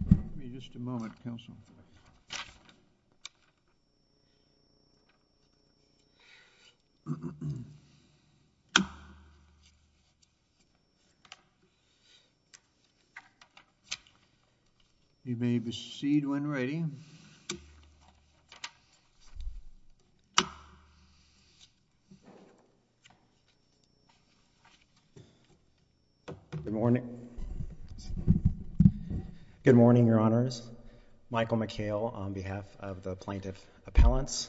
will make its discussion. Good morning. Good morning, your honors. Michael McHale on behalf of the plaintiff appellants.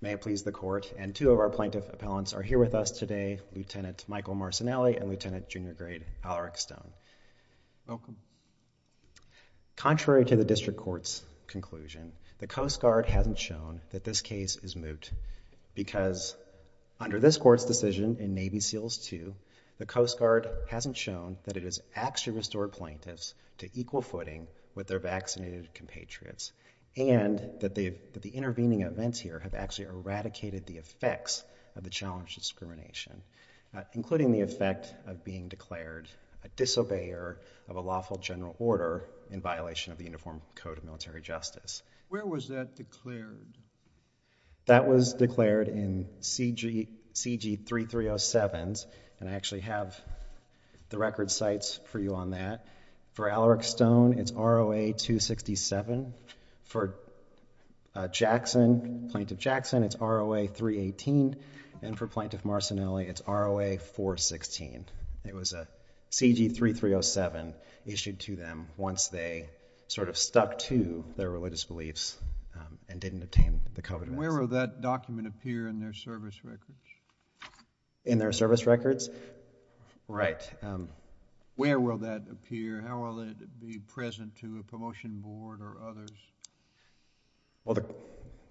May it please the court. And two of our plaintiff appellants are here with us today, Lieutenant Michael Marcinelli and Lieutenant Junior Grade Alaric Stone. Welcome. Contrary to the district court's conclusion, the Coast Guard hasn't shown that this case is moot because under this court's decision in Navy SEALS II, the Coast Guard hasn't shown that it has actually restored plaintiffs to equal footing with their vaccinated compatriots and that the intervening events here have actually eradicated the effects of the challenge discrimination, including the effect of being declared a disobeyer of a lawful general order in violation of the Uniform Code of Military Justice. Where was that declared? That was declared in CG 3307s. And I actually have the record sites for you on that. For Alaric Stone, it's ROA 267. For Jackson, Plaintiff Jackson, it's ROA 318. And for Plaintiff Marcinelli, it's ROA 416. It was a CG 3307 issued to them once they sort of stuck to their religious beliefs and didn't obtain the covenants. Where will that document appear in their service records? In their service records? Right. Where will that appear? How will it be present to a promotion board or others? Well,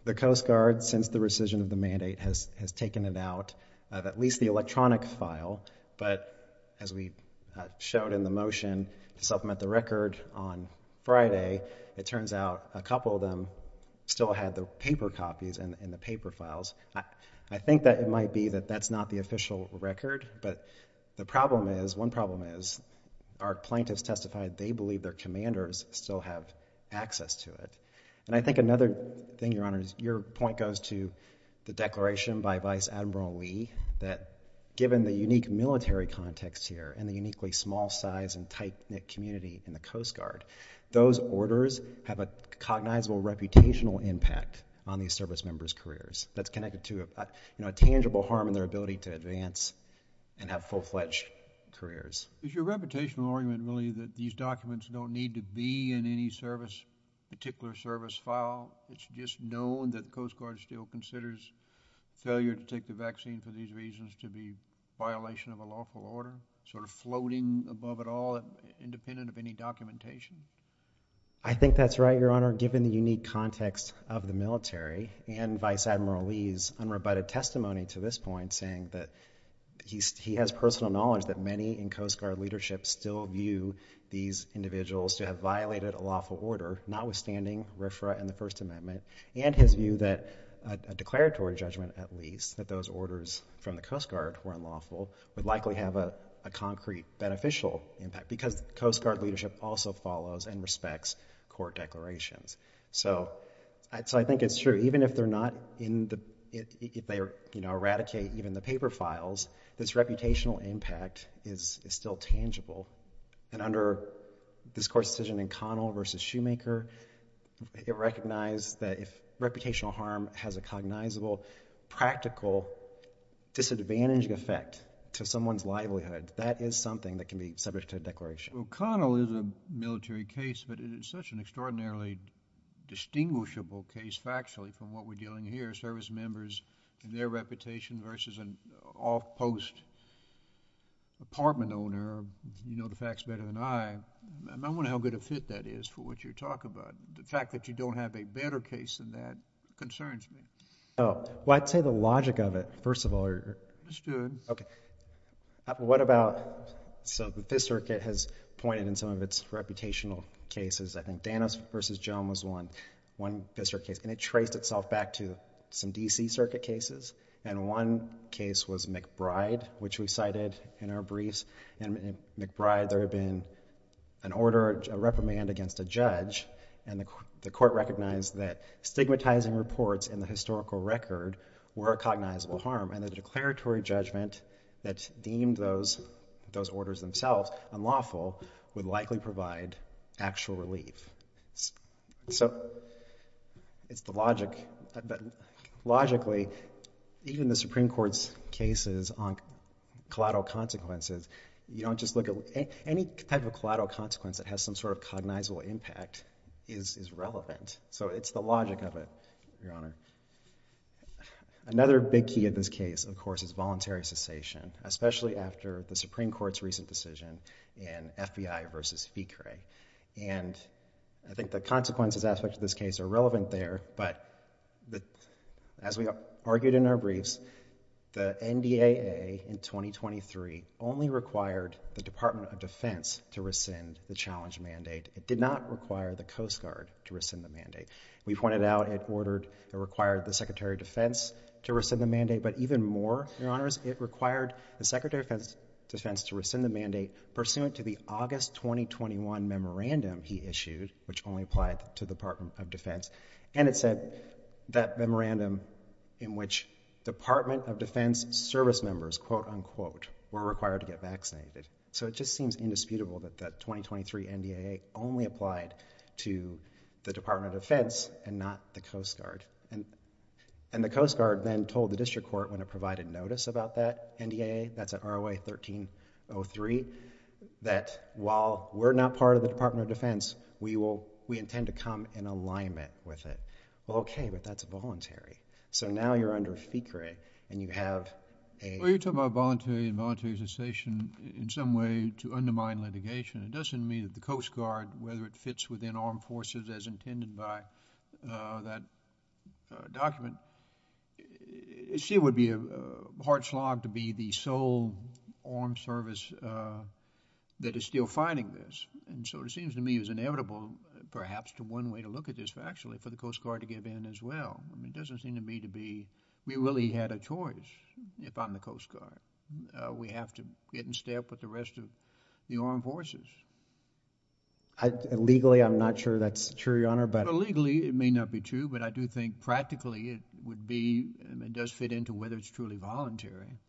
the Coast Guard, since the rescission of the mandate, has taken it out of at least the electronic file. But as we showed in the motion to supplement the record on Friday, it turns out a couple of them still had the paper copies and the paper files. I think that it might be that that's not the official record. But the problem is, one problem is, our plaintiffs testified they believe their commanders still have access to it. And I think another thing, Your Honor, is your point goes to the declaration by Vice Admiral Lee that given the unique military context here and the uniquely small size and tight knit community in the Coast Guard, those orders have a cognizable reputational impact on these service members' careers. That's connected to a tangible harm in their ability to advance and have full-fledged careers. Is your reputational argument really that these documents don't need to be in any particular service file? It's just known that the Coast Guard still considers failure to take the vaccine for these reasons to be a violation of a lawful order, sort of floating above it all, independent of any documentation? I think that's right, Your Honor. Given the unique context of the military and Vice Admiral Lee's unrebutted testimony to this point, saying that he has personal knowledge that many in Coast Guard leadership still view these individuals to have violated a lawful order, notwithstanding RFRA and the First Amendment, and his view that a declaratory judgment, at least, that those orders from the Coast Guard were unlawful, would likely have a concrete beneficial impact. Because Coast Guard leadership also follows and respects court declarations. So I think it's true. Even if they're not in the, if they eradicate even the paper files, this reputational impact is still tangible. And under this court's decision in Connell versus Shoemaker, it recognized that if reputational harm has a cognizable, practical, disadvantaging effect to someone's livelihood, that is something that can be subject to a declaration. Well, Connell is a military case, but it is such an extraordinarily distinguishable case factually, from what we're dealing here, service members and their reputation versus an off-post apartment owner. You know the facts better than I. I wonder how good a fit that is for what you're talking about. The fact that you don't have a better case than that concerns me. Well, I'd say the logic of it, first of all. Understood. OK. What about, so the Fifth Circuit has pointed in some of its reputational cases. I think Danis versus Jones was one. And it traced itself back to some DC circuit cases. And one case was McBride, which we cited in our briefs. And in McBride, there had been an order of reprimand against a judge. And the court recognized that stigmatizing reports in the historical record were a cognizable harm. And the declaratory judgment that deemed those orders themselves unlawful would likely provide actual relief. So it's the logic. Logically, even the Supreme Court's cases on collateral consequences, you don't just look at it. Any type of collateral consequence that has some sort of cognizable impact is relevant. So it's the logic of it, Your Honor. Another big key in this case, of course, is voluntary cessation, especially after the Supreme Court's recent decision in FBI versus FICRE. And I think the consequences aspect of this case are relevant there. But as we argued in our briefs, the NDAA in 2023 only required the Department of Defense to rescind the challenge mandate. It did not require the Coast Guard to rescind the mandate. We pointed out it required the Secretary of Defense to rescind the mandate. But even more, Your Honors, it required the Secretary of Defense to rescind the mandate pursuant to the August 2021 memorandum he issued, which only applied to the Department of Defense. And it said that memorandum in which Department of Defense service members, quote unquote, were required to get vaccinated. So it just seems indisputable that that 2023 NDAA only applied to the Department of Defense and not the Coast Guard. And the Coast Guard then told the district court when it provided notice about that NDAA, that's an ROA-1303, that while we're not part of the Department of Defense, we intend to come in alignment with it. Well, OK, but that's voluntary. So now you're under FICRE, and you have a- Well, you're talking about voluntary and voluntary cessation in some way to undermine litigation. It doesn't mean that the Coast Guard, whether it fits within armed forces as intended by that document, she would be a hard slog to be the sole armed service that is still fighting this. And so it seems to me it was inevitable, perhaps, to one way to look at this, actually, for the Coast Guard to give in as well. It doesn't seem to me to be we really had a choice if I'm the Coast Guard. We have to get in step with the rest of the armed forces. Legally, I'm not sure that's true, Your Honor, but- Legally, it may not be true. But I do think practically it would be, and it does fit into whether it's truly voluntary.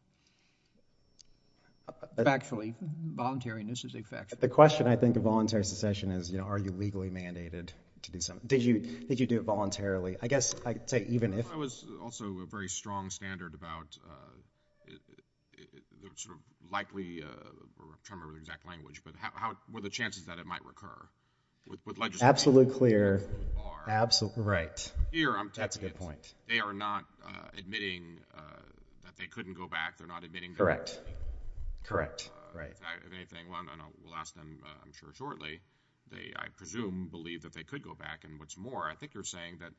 Factually, voluntariness is a fact. The question, I think, of voluntary secession is, are you legally mandated to do something? Did you do it voluntarily? I guess I'd say even if- I was also a very strong standard about the likely, I'm trying to remember the exact language, but how were the chances that it might recur with legislation? Absolutely clear. Absolutely. Right. That's a good point. They are not admitting that they couldn't go back. They're not admitting that- Correct. Correct. Right. If anything, we'll ask them, I'm sure, shortly. I presume, believe that they could go back. And what's more, I think you're saying that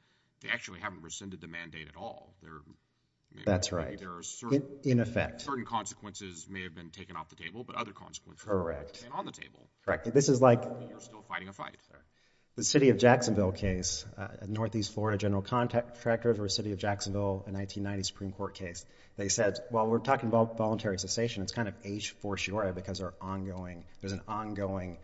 they actually haven't rescinded the mandate at all. That's right. In effect. Certain consequences may have been taken off the table, but other consequences remain on the table. Correct. You're still fighting a fight. The city of Jacksonville case, a Northeast Florida general contact tracker for a city of Jacksonville, a 1990 Supreme Court case. They said, while we're talking about voluntary cessation, it's kind of age for sure, because there's an ongoing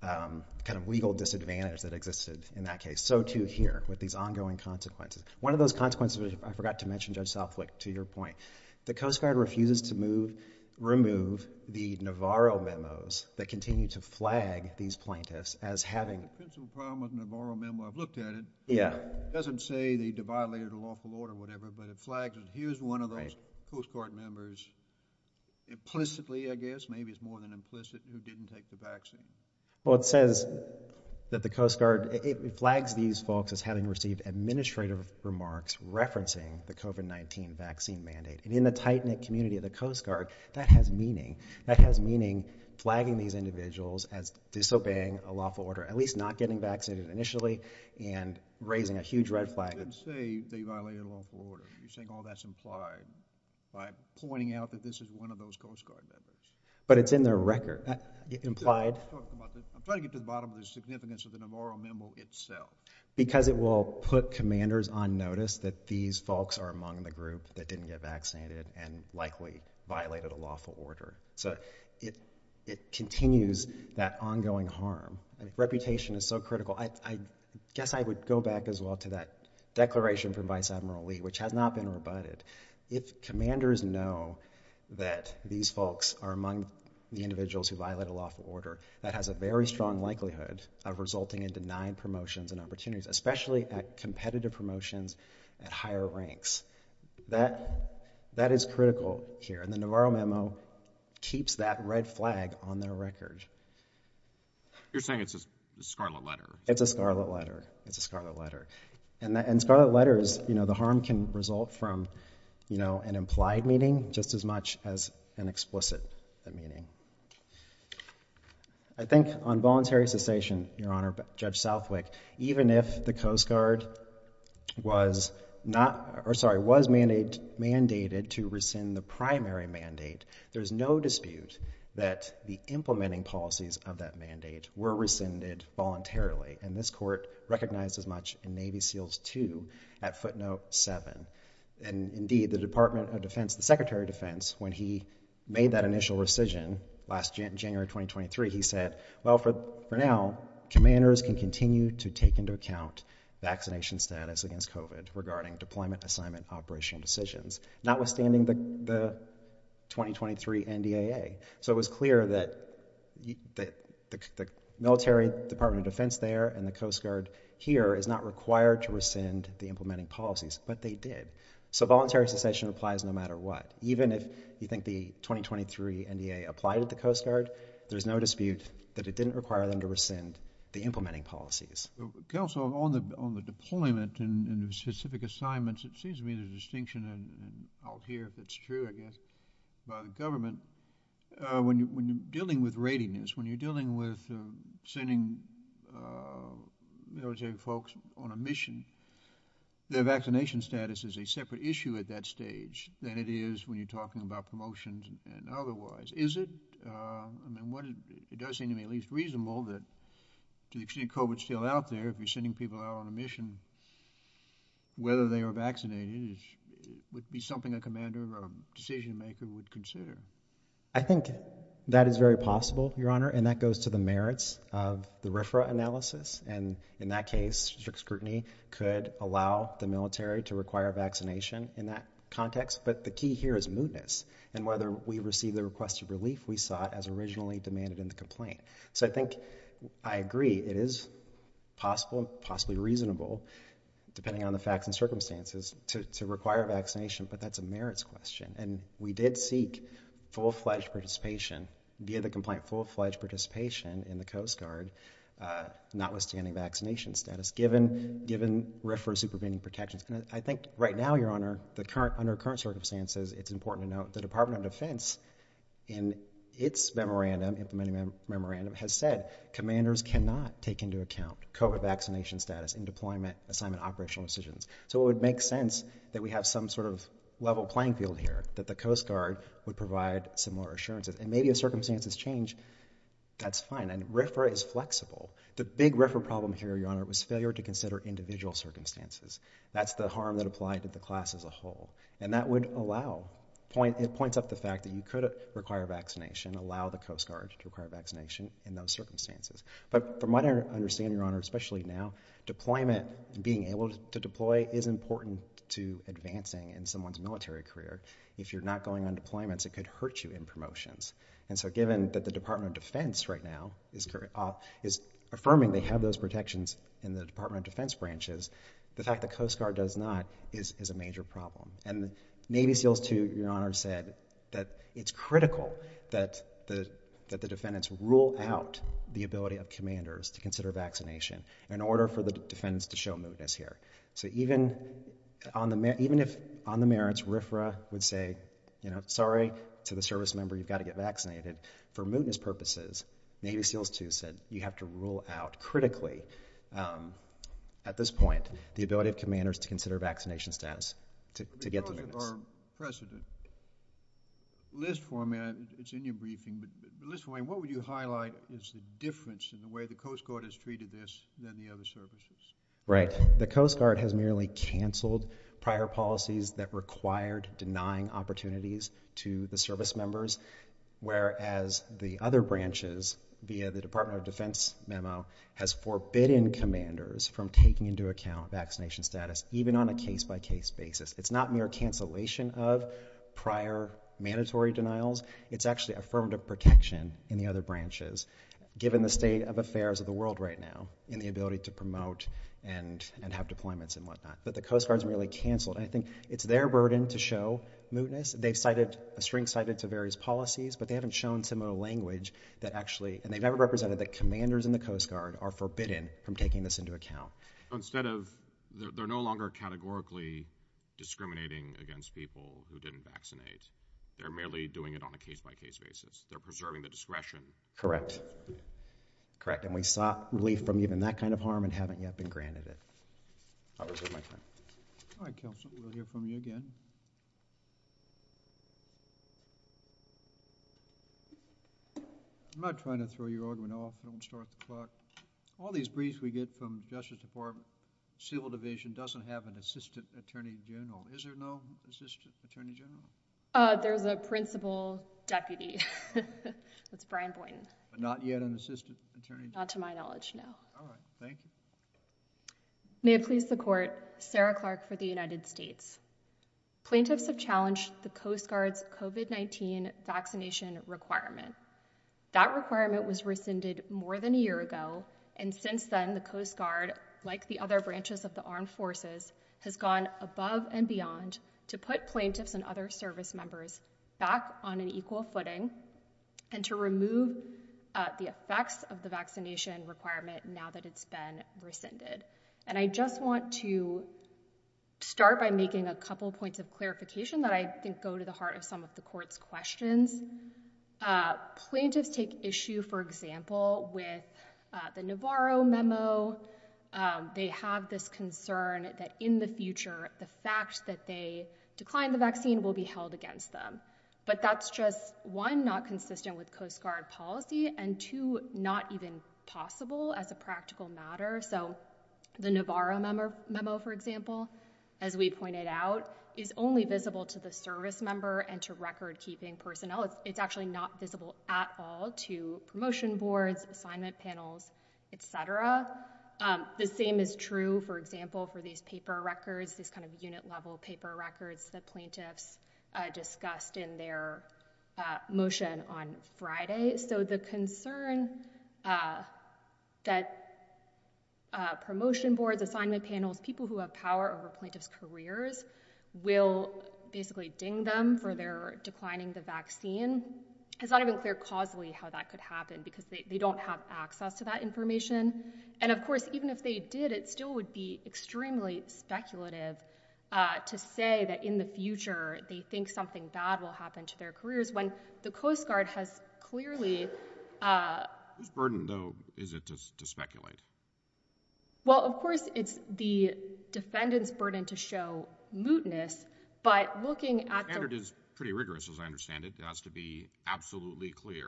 kind of legal disadvantage that existed in that case. So too here, with these ongoing consequences. One of those consequences, I forgot to mention, Judge Southwick, to your point, the Coast Guard refuses to remove the Navarro memos that continue to flag these plaintiffs as having- The principal problem with Navarro memo, I've looked at it. Yeah. It doesn't say they violated a lawful order or whatever, but it flags it. Here's one of those Coast Guard members, implicitly, I guess, maybe it's more than implicit, who didn't take the vaccine. Well, it says that the Coast Guard flags these folks as having received administrative remarks referencing the COVID-19 vaccine mandate. And in the tight-knit community of the Coast Guard, that has meaning. That has meaning flagging these individuals as disobeying a lawful order, at least not getting vaccinated initially, and raising a huge red flag. It doesn't say they violated a lawful order. You're saying all that's implied by pointing out that this is one of those Coast Guard members. But it's in their record. Implied. I'm trying to get to the bottom of the significance of the Navarro memo itself. Because it will put commanders on notice that these folks are among the group that didn't get vaccinated and likely violated a lawful order. So it continues that ongoing harm. Reputation is so critical. I guess I would go back as well to that declaration from Vice Admiral Lee, which has not been rebutted. If commanders know that these folks are among the individuals who violated a lawful order, that has a very strong likelihood of resulting in denied promotions and opportunities, especially at competitive promotions at higher ranks. That is critical here. And the Navarro memo keeps that red flag on their record. You're saying it's a scarlet letter. It's a scarlet letter. It's a scarlet letter. And scarlet letters, the harm can result from an implied meaning just as much as an explicit meaning. I think on voluntary cessation, Your Honor, Judge Southwick, even if the Coast Guard was mandated to rescind the primary mandate, there's no dispute that the implementing policies of that mandate were rescinded voluntarily. And this court recognized as much in Navy SEALS 2 at footnote 7. And indeed, the Department of Defense, the Secretary of Defense, when he made that initial rescission last January 2023, he said, well, for now, commanders can continue to take into account vaccination status against COVID regarding deployment, assignment, operation decisions. Notwithstanding the 2023 NDAA. So it was clear that the military Department of Defense there and the Coast Guard here is not required to rescind the implementing policies. But they did. So voluntary cessation applies no matter what. Even if you think the 2023 NDAA applied to the Coast Guard, there's no dispute that it didn't require them to rescind the implementing policies. Counsel, on the deployment and the specific assignments, it seems to me the distinction, and I'll hear if it's true, I guess, by the government, when you're dealing with rating this, when you're dealing with sending military folks on a mission, their vaccination status is a separate issue at that stage than it is when you're talking about promotions and otherwise. Is it? I mean, it does seem to me at least reasonable that to the extent COVID's still out there, if you're sending people out on a mission, whether they are vaccinated would be something a commander or a decision maker would consider. I think that is very possible, Your Honor. And that goes to the merits of the RFRA analysis. And in that case, strict scrutiny could allow the military to require vaccination in that context. But the key here is mootness. And whether we receive the request of relief, we saw it as originally demanded in the complaint. So I think I agree. It is possible, possibly reasonable, depending on the facts and circumstances, to require vaccination. But that's a merits question. And we did seek full-fledged participation via the complaint, full-fledged participation in the Coast Guard, notwithstanding vaccination status, given RFRA's supervening protections. I think right now, Your Honor, under current circumstances, it's important to note the Department of Defense in its memorandum, implementing memorandum, has said commanders cannot take into account COVID vaccination status in deployment, assignment, operational decisions. So it would make sense that we have some sort of level playing field here, that the Coast Guard would provide similar assurances. And maybe if circumstances change, that's fine. And RFRA is flexible. The big RFRA problem here, Your Honor, was failure to consider individual circumstances. That's the harm that applied to the class as a whole. And that would allow, it points up the fact that you could require vaccination, allow the Coast Guard to require vaccination, in those circumstances. But from what I understand, Your Honor, especially now, deployment, being able to deploy, is important to advancing in someone's military career. If you're not going on deployments, it could hurt you in promotions. And so given that the Department of Defense, right now, is affirming they have those protections in the Department of Defense branches, the fact the Coast Guard does not is a major problem. And Navy SEALs, too, Your Honor, said that it's critical that the defendants rule out the ability of commanders to consider vaccination, in order for the defendants to show mootness here. So even if, on the merits, RFRA would say, sorry to the service member, you've got to get vaccinated. For mootness purposes, Navy SEALs, too, said you have to rule out, critically, at this point, the ability of commanders to consider vaccination status to get the mootness. Your Honor, precedent. List format, it's in your briefing, but list format, what would you highlight is the difference in the way the Coast Guard has treated this than the other services? Right. The Coast Guard has merely canceled prior policies that required denying opportunities to the service members, whereas the other branches, via the Department of Defense memo, has forbidden commanders from taking into account vaccination status, even on a case-by-case basis. It's not mere cancellation of prior mandatory denials. It's actually affirmative protection in the other branches, given the state of affairs of the world right now in the ability to promote and have deployments and whatnot. But the Coast Guard's merely canceled. And I think it's their burden to show mootness. They've cited a string cited to various policies, but they haven't shown similar language that actually, and they've never represented that commanders in the Coast Guard are forbidden from taking this into account. Instead of, they're no longer categorically discriminating against people who didn't vaccinate. They're merely doing it on a case-by-case basis. They're preserving the discretion. Correct. Correct. And we sought relief from even that kind of harm and haven't yet been granted it. I'll reserve my time. All right, Counselor. We'll hear from you again. I'm not trying to throw your argument off. I don't want to start the clock. All these briefs we get from Justice Department, civil division, doesn't have an assistant attorney general. Is there no assistant attorney general? There's a principal deputy. That's Brian Boynton. Not yet an assistant attorney general? Not to my knowledge, no. All right, thank you. May it please the court, Sarah Clark for the United States. Plaintiffs have challenged the Coast Guard's COVID-19 vaccination requirement. That requirement was rescinded more than a year ago. And since then, the Coast Guard, like the other branches of the armed forces, has gone above and beyond to put plaintiffs and other service members back on an equal footing and to remove the effects of the vaccination requirement now that it's been rescinded. And I just want to start by making a couple of points of clarification that I think go to the heart of some of the court's questions. Plaintiffs take issue, for example, with the Navarro memo. They have this concern that in the future, the fact that they declined the vaccine will be held against them. But that's just, one, not consistent with Coast Guard policy, and two, not even possible as a practical matter. So the Navarro memo, for example, as we pointed out, is only visible to the service member and to record-keeping personnel. It's actually not visible at all to promotion boards, assignment panels, et cetera. The same is true, for example, for these paper records, these kind of unit-level paper records that plaintiffs discussed in their motion on Friday. So the concern that promotion boards, assignment panels, people who have power over plaintiffs' careers will basically ding them for their declining the vaccine. It's not even clear causally how that could happen because they don't have access to that information. And of course, even if they did, it still would be extremely speculative to say that in the future, they think something bad will happen to their careers when the Coast Guard has clearly... Whose burden, though, is it to speculate? Well, of course, it's the defendant's burden to show mootness, but looking at the... The standard is pretty rigorous, as I understand it. It has to be absolutely clear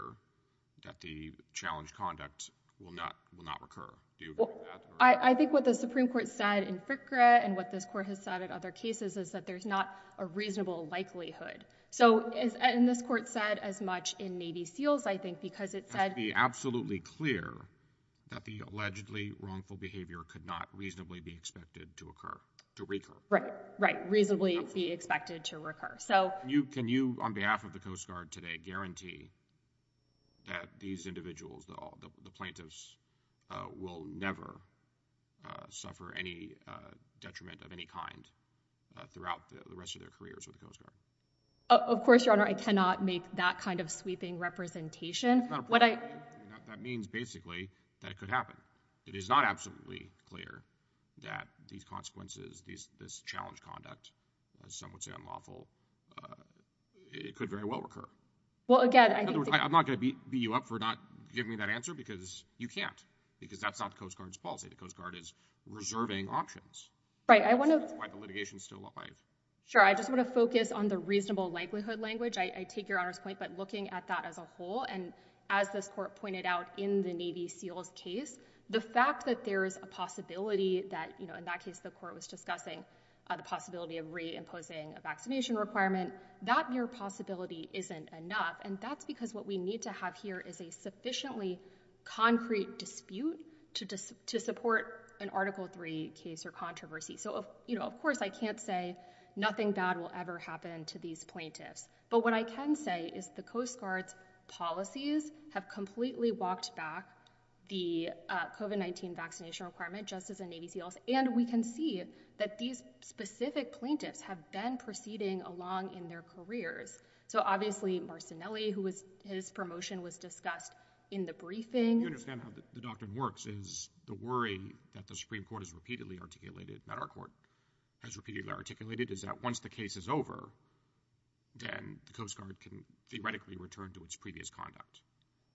that the challenged conduct will not recur. Do you agree with that? I think what the Supreme Court said in FCRA and what this court has said in other cases is that there's not a reasonable likelihood. So, and this court said as much in Navy SEALs, I think, because it said... It has to be absolutely clear that the allegedly wrongful behavior could not reasonably be expected to occur, to recur. Right, right, reasonably be expected to recur. So... Can you, on behalf of the Coast Guard today, guarantee that these individuals, the plaintiffs, will never suffer any detriment of any kind throughout the rest of their careers with the Coast Guard? Of course, Your Honor, I cannot make that kind of sweeping representation. That means, basically, that it could happen. It is not absolutely clear that these consequences, this challenged conduct, as some would say, unlawful, it could very well recur. Well, again, I think... In other words, I'm not gonna beat you up for not giving me that answer, because you can't, because that's not the Coast Guard's policy. The Coast Guard is reserving options. Right, I want to... That's why the litigation's still alive. Sure, I just want to focus on the reasonable likelihood language. I take Your Honor's point, but looking at that as a whole, and as this court pointed out in the Navy SEALs case, the fact that there is a possibility that, in that case, the court was discussing the possibility of re-imposing a vaccination requirement, that mere possibility isn't enough, and that's because what we need to have here is a sufficiently concrete dispute to support an Article III case or controversy. So, of course, I can't say nothing bad will ever happen to these plaintiffs, but what I can say is the Coast Guard's policies have completely walked back the COVID-19 vaccination requirement, just as the Navy SEALs, and we can see that these specific plaintiffs have been proceeding along in their careers. So, obviously, Marcinelli, who his promotion was discussed in the briefing. You understand how the doctrine works, is the worry that the Supreme Court has repeatedly articulated, that our court has repeatedly articulated, is that once the case is over, then the Coast Guard can theoretically return to its previous conduct.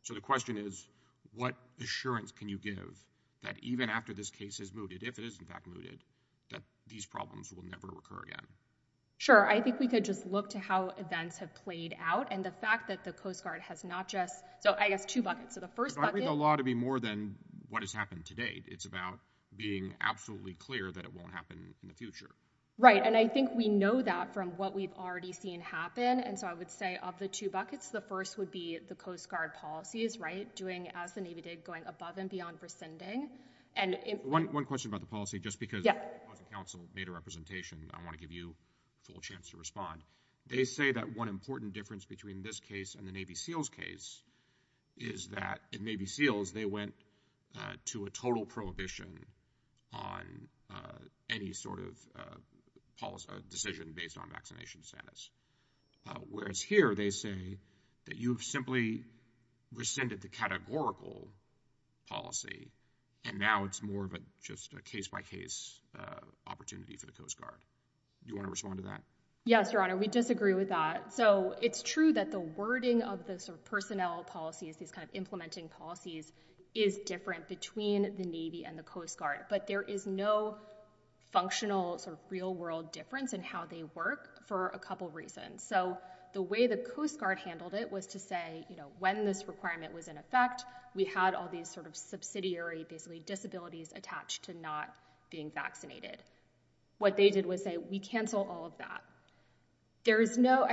So, the question is, what assurance can you give that even after this case is mooted, if it is, in fact, mooted, that these problems will never recur again? Sure, I think we could just look to how events have played out, and the fact that the Coast Guard has not just, so, I guess, two buckets. So, the first bucket- I read the law to be more than what has happened to date. It's about being absolutely clear that it won't happen in the future. Right, and I think we know that from what we've already seen happen. And so, I would say of the two buckets, the first would be the Coast Guard policies, right? Doing as the Navy did, going above and beyond rescinding. And- One question about the policy, just because- Yeah. I was in counsel, made a representation. I want to give you a full chance to respond. They say that one important difference between this case and the Navy SEALs case is that in Navy SEALs, they went to a total prohibition on any sort of decision based on vaccination status. Whereas here, they say that you've simply rescinded the categorical policy, and now it's more of just a case-by-case opportunity for the Coast Guard. Do you want to respond to that? Yes, Your Honor. We disagree with that. So, it's true that the wording of the sort of personnel policies, these kind of implementing policies, is different between the Navy and the Coast Guard, but there is no functional sort of real world difference in how they work for a couple of reasons. So, the way the Coast Guard handled it was to say, you know, when this requirement was in effect, we had all these sort of subsidiary, basically disabilities attached to not being vaccinated. What they did was say, we cancel all of that. There is no,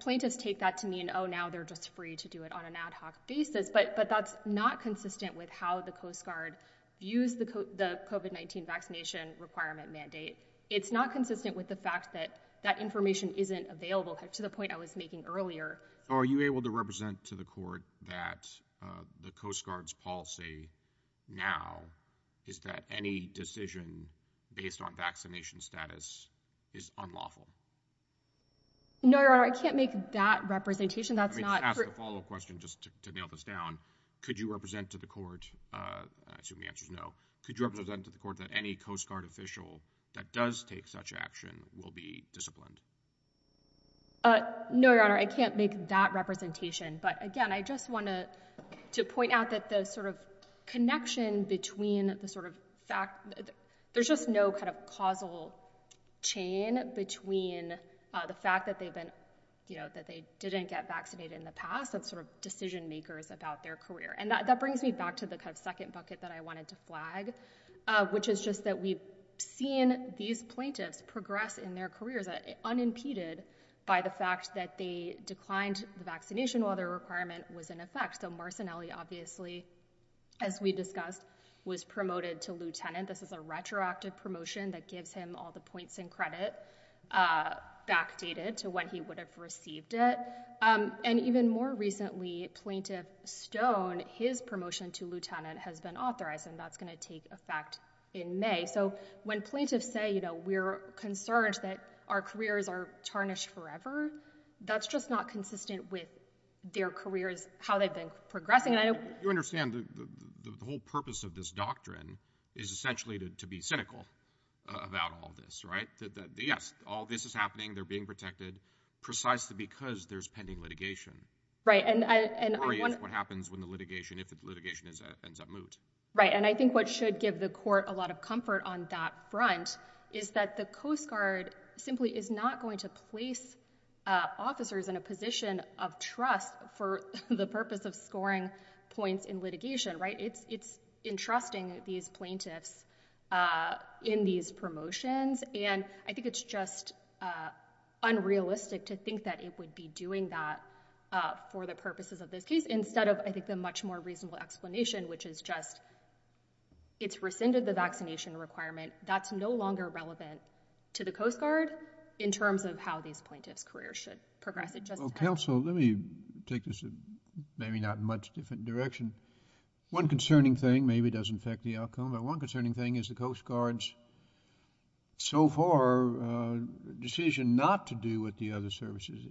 plaintiffs take that to mean, oh, now they're just free to do it on an ad hoc basis, but that's not consistent with how the Coast Guard views the COVID-19 vaccination requirement mandate. It's not consistent with the fact that that information isn't available to the point I was making earlier. Are you able to represent to the court that the Coast Guard's policy now is that any decision based on vaccination status is unlawful? No, Your Honor, I can't make that representation. That's not- I'm gonna ask you a question just to nail this down. Could you represent to the court, I assume the answer's no. Could you represent to the court that any Coast Guard official that does take such action will be disciplined? No, Your Honor, I can't make that representation. But again, I just want to point out that the sort of connection between the sort of fact, there's just no kind of causal chain between the fact that they've been, you know, that they didn't get vaccinated in the past. That's sort of decision makers about their career. And that brings me back to the kind of second bucket that I wanted to flag, which is just that we've seen these plaintiffs progress in their careers unimpeded by the fact that they declined the vaccination while their requirement was in effect. So Marcinelli obviously, as we discussed, was promoted to Lieutenant. This is a retroactive promotion that gives him all the points and credit backdated to when he would have received it. And even more recently, Plaintiff Stone, his promotion to Lieutenant has been authorized and that's going to take effect in May. So when plaintiffs say, you know, we're concerned that our careers are tarnished forever, that's just not consistent with their careers, how they've been progressing. You understand the whole purpose of this doctrine is essentially to be cynical about all this, right? Yes, all this is happening. They're being protected precisely because there's pending litigation. Right, and I want- Or what happens when the litigation, if the litigation ends up moot. Right, and I think what should give the court a lot of comfort on that front is that the Coast Guard simply is not going to place officers in a position of trust for the purpose of scoring points in litigation, right? It's entrusting these plaintiffs in these promotions and I think it's just unrealistic to think that it would be doing that for the purposes of this case instead of, I think, the much more reasonable explanation, which is just, it's rescinded the vaccination requirement. That's no longer relevant to the Coast Guard in terms of how these plaintiffs' careers should progress at just- Well, counsel, let me take this in maybe not much different direction. One concerning thing, maybe it doesn't affect the outcome, but one concerning thing is the Coast Guard's, so far, decision not to do what the other services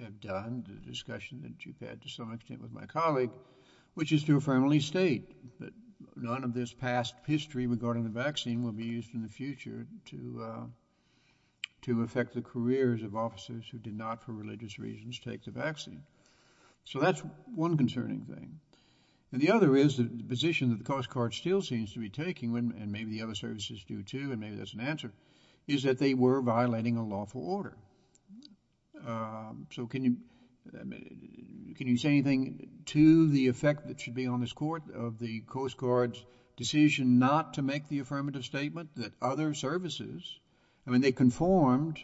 have done, the discussion that you've had to some extent with my colleague, which is to affirmably state that none of this past history regarding the vaccine will be used in the future to affect the careers of officers who did not, for religious reasons, take the vaccine. So that's one concerning thing. And the other is the position that the Coast Guard still seems to be taking, and maybe the other services do too, and maybe that's an answer, is that they were violating a lawful order. So can you say anything to the effect that should be on this court of the Coast Guard's decision not to make the affirmative statement that other services, I mean, they conformed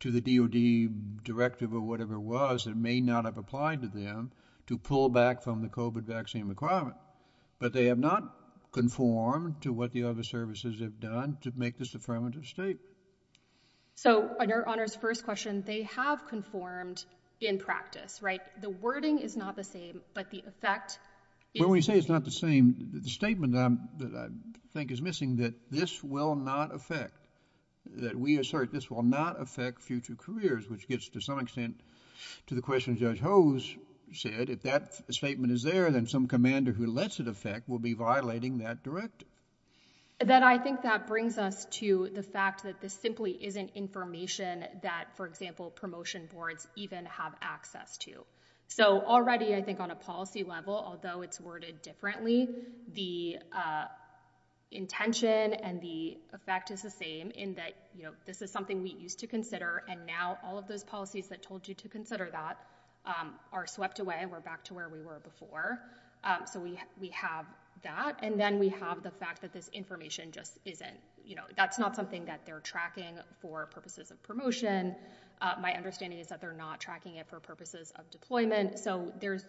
to the DOD directive or whatever it was that may not have applied to them to pull back from the COVID vaccine requirement, but they have not conformed to what the other services have done to make this affirmative statement? So on your Honor's first question, they have conformed in practice, right? The wording is not the same, but the effect is. When we say it's not the same, the statement that I think is missing that this will not affect, that we assert this will not affect future careers, which gets to some extent to the question Judge Hose said, if that statement is there, then some commander who lets it affect will be violating that directive. That I think that brings us to the fact that this simply isn't information that, for example, promotion boards even have access to. So already I think on a policy level, although it's worded differently, the intention and the effect is the same in that this is something we used to consider and now all of those policies that told you to consider that are swept away and we're back to where we were before. So we have that and then we have the fact that this information just isn't, that's not something that they're tracking for purposes of promotion. My understanding is that they're not tracking it for purposes of deployment. So there's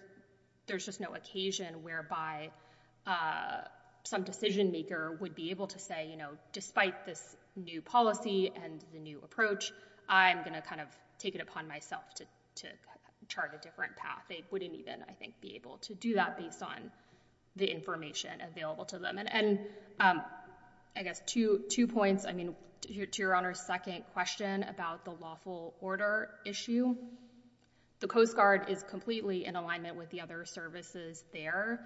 just no occasion whereby some decision maker would be able to say, despite this new policy and the new approach, I'm gonna kind of take it upon myself to chart a different path. They wouldn't even, I think, be able to do that based on the information available to them. And I guess two points. I mean, to Your Honor's second question about the lawful order issue, the Coast Guard is completely in alignment with the other services there.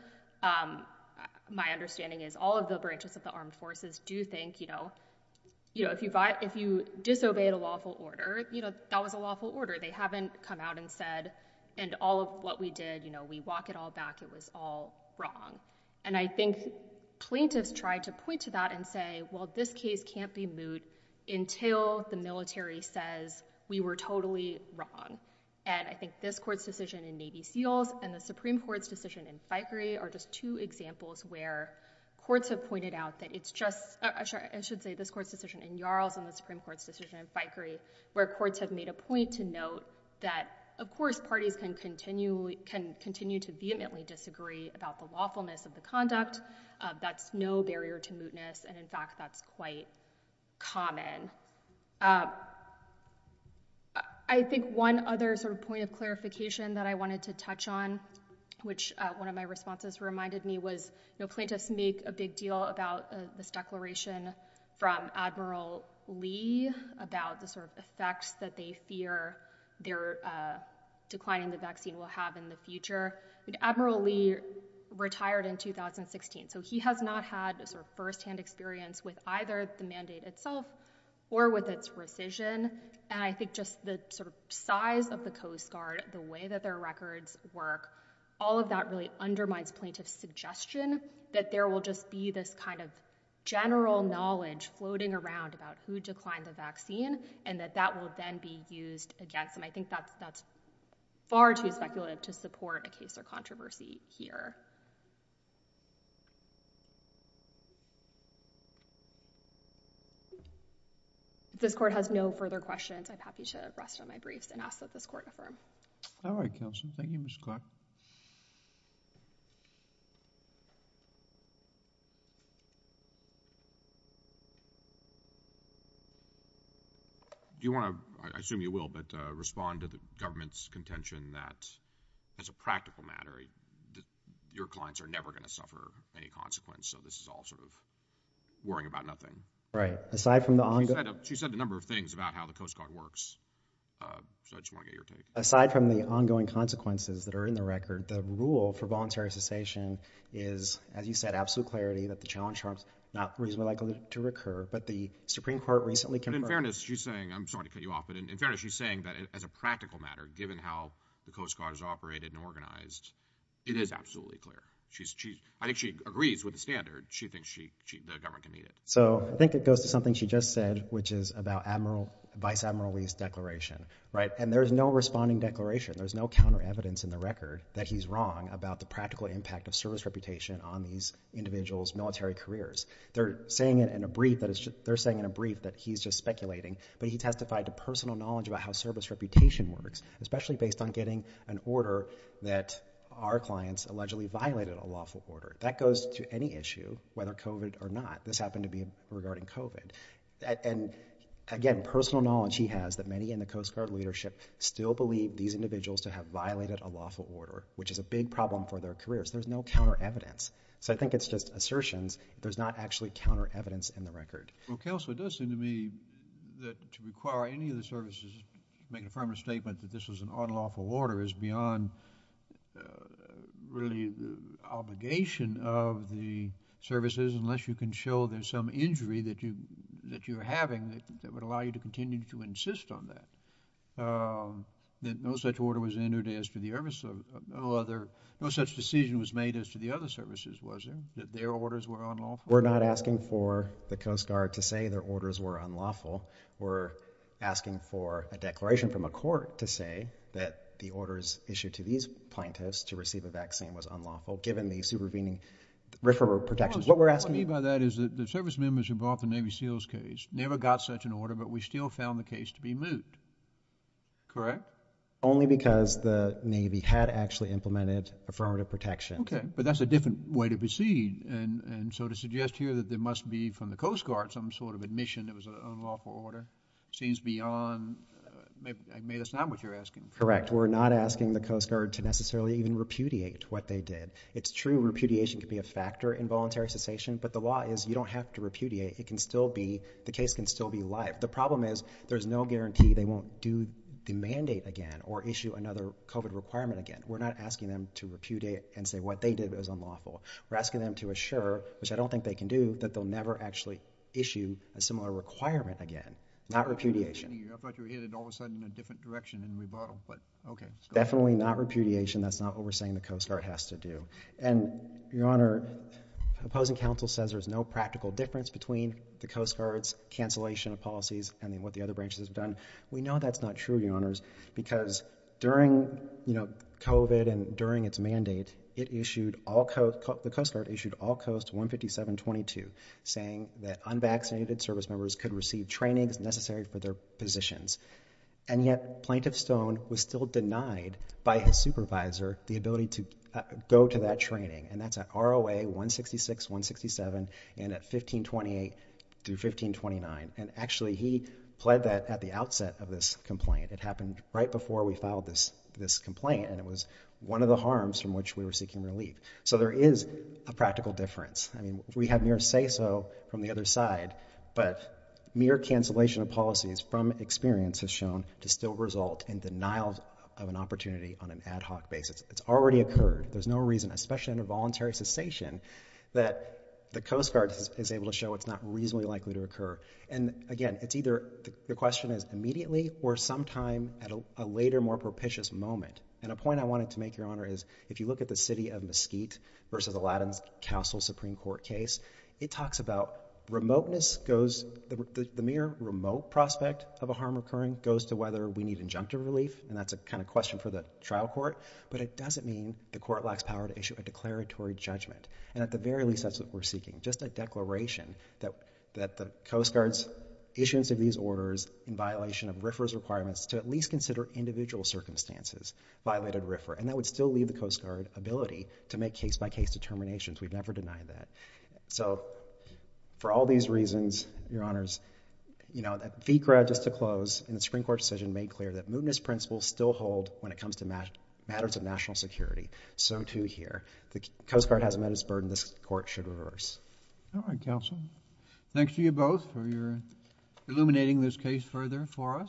My understanding is all of the branches of the armed forces do think, if you disobeyed a lawful order, that was a lawful order. They haven't come out and said, and all of what we did, you know, we walk it all back, it was all wrong. And I think plaintiffs tried to point to that and say, well, this case can't be moot until the military says we were totally wrong. And I think this court's decision in Navy Seals and the Supreme Court's decision in Fikery are just two examples where courts have pointed out that it's just, I should say this court's decision in Yarles and the Supreme Court's decision in Fikery, where courts have made a point to note that, of course, parties can continue to vehemently disagree about the lawfulness of the conduct. That's no barrier to mootness, and in fact, that's quite common. I think one other sort of point of clarification that I wanted to touch on, which one of my responses reminded me was, you know, plaintiffs make a big deal about this declaration from Admiral Lee about the sort of effects that they fear their declining the vaccine will have in the future. Admiral Lee retired in 2016, so he has not had a sort of firsthand experience with either the mandate itself or with its rescission. And I think just the sort of size of the Coast Guard, the way that their records work, all of that really undermines plaintiff's suggestion that there will just be this kind of general knowledge floating around about who declined the vaccine, and that that will then be used against them. I think that's far too speculative to support a case or controversy here. If this court has no further questions, I'm happy to rest on my briefs and ask that this court affirm. All right, counsel. Thank you, Ms. Clark. Do you want to, I assume you will, but respond to the government's contention that as a practical matter, your clients are never going to suffer any consequence, so this is all sort of worrying about nothing. Right, aside from the ongoing... She said a number of things about how the Coast Guard works. So I just want to get your take. Aside from the ongoing consequences that are in the record, the rule for voluntary cessation is, as you said, absolute clarity that the challenge terms are not reasonably likely to recur, but the Supreme Court recently confirmed... But in fairness, she's saying, I'm sorry to cut you off, but in fairness, she's saying that as a practical matter, given how the Coast Guard is operated and organized, it is absolutely clear. She's, I think she agrees with the standard. She thinks the government can meet it. So I think it goes to something she just said, which is about Vice Admiral Lee's declaration, right? And there's no responding declaration. There's no counter evidence in the record that he's wrong about the practical impact of service reputation on these individuals' military careers. They're saying in a brief that he's just speculating, but he testified to personal knowledge about how service reputation works, especially based on getting an order that our clients allegedly violated a lawful order. That goes to any issue, whether COVID or not. This happened to be regarding COVID. And again, personal knowledge he has that many in the Coast Guard leadership still believe these individuals to have violated a lawful order, which is a big problem for their careers. There's no counter evidence. So I think it's just assertions. There's not actually counter evidence in the record. Well, Counselor, it does seem to me that to require any of the services to make a firm statement that this was an unlawful order is beyond really the obligation of the services, unless you can show there's some injury that you're having that would allow you to continue to insist on that. That no such order was entered as to the other, no such decision was made as to the other services, was there, that their orders were unlawful? We're not asking for the Coast Guard to say their orders were unlawful. We're asking for a declaration from a court to say that the orders issued to these plaintiffs to receive a vaccine was unlawful, given the supervening referral protections. What we're asking- What I mean by that is that the service members who brought the Navy SEALs case never got such an order, but we still found the case to be moot, correct? Only because the Navy had actually implemented affirmative protection. Okay, but that's a different way to proceed. And so to suggest here that there must be from the Coast Guard some sort of admission that it was an unlawful order, seems beyond, maybe that's not what you're asking for. Correct, we're not asking the Coast Guard to necessarily even repudiate what they did. It's true, repudiation can be a factor in voluntary cessation, but the law is you don't have to repudiate. It can still be, the case can still be live. The problem is there's no guarantee they won't do the mandate again or issue another COVID requirement again. We're not asking them to repudiate and say what they did was unlawful. We're asking them to assure, which I don't think they can do, that they'll never actually issue a similar requirement again, not repudiation. I thought you were headed all of a sudden in a different direction in rebuttal, but okay. Definitely not repudiation. That's not what we're saying the Coast Guard has to do. And Your Honor, opposing counsel says there's no practical difference between the Coast Guard's cancellation of policies and what the other branches have done. We know that's not true, Your Honors, because during COVID and during its mandate, it issued all, the Coast Guard issued all Coast 157.22 saying that unvaccinated service members could receive trainings necessary for their positions. And yet Plaintiff Stone was still denied by his supervisor the ability to go to that training. And that's at ROA 166, 167, and at 1528 through 1529. And actually he pled that at the outset of this complaint. It happened right before we filed this complaint. And it was one of the harms from which we were seeking relief. So there is a practical difference. I mean, we have near say so from the other side, but mere cancellation of policies from experience has shown to still result in denial of an opportunity on an ad hoc basis. It's already occurred. There's no reason, especially in a voluntary cessation that the Coast Guard is able to show it's not reasonably likely to occur. And again, it's either your question is immediately or sometime at a later, more propitious moment. And a point I wanted to make, Your Honor, is if you look at the city of Mesquite versus Aladdin's Castle Supreme Court case, it talks about remoteness goes, the mere remote prospect of a harm occurring goes to whether we need injunctive relief. And that's a kind of question for the trial court. But it doesn't mean the court lacks power to issue a declaratory judgment. And at the very least, that's what we're seeking. Just a declaration that the Coast Guard's issuance of these orders in violation of RFRA's requirements to at least consider individual circumstances violated RFRA. And that would still leave the Coast Guard ability to make case-by-case determinations. We've never denied that. So for all these reasons, Your Honors, that fee crowd just to close in the Supreme Court decision made clear that mootness principles still hold when it comes to matters of national security. So too here. The Coast Guard has met its burden. This court should reverse. All right, counsel. Thanks to you both for illuminating this case further for us.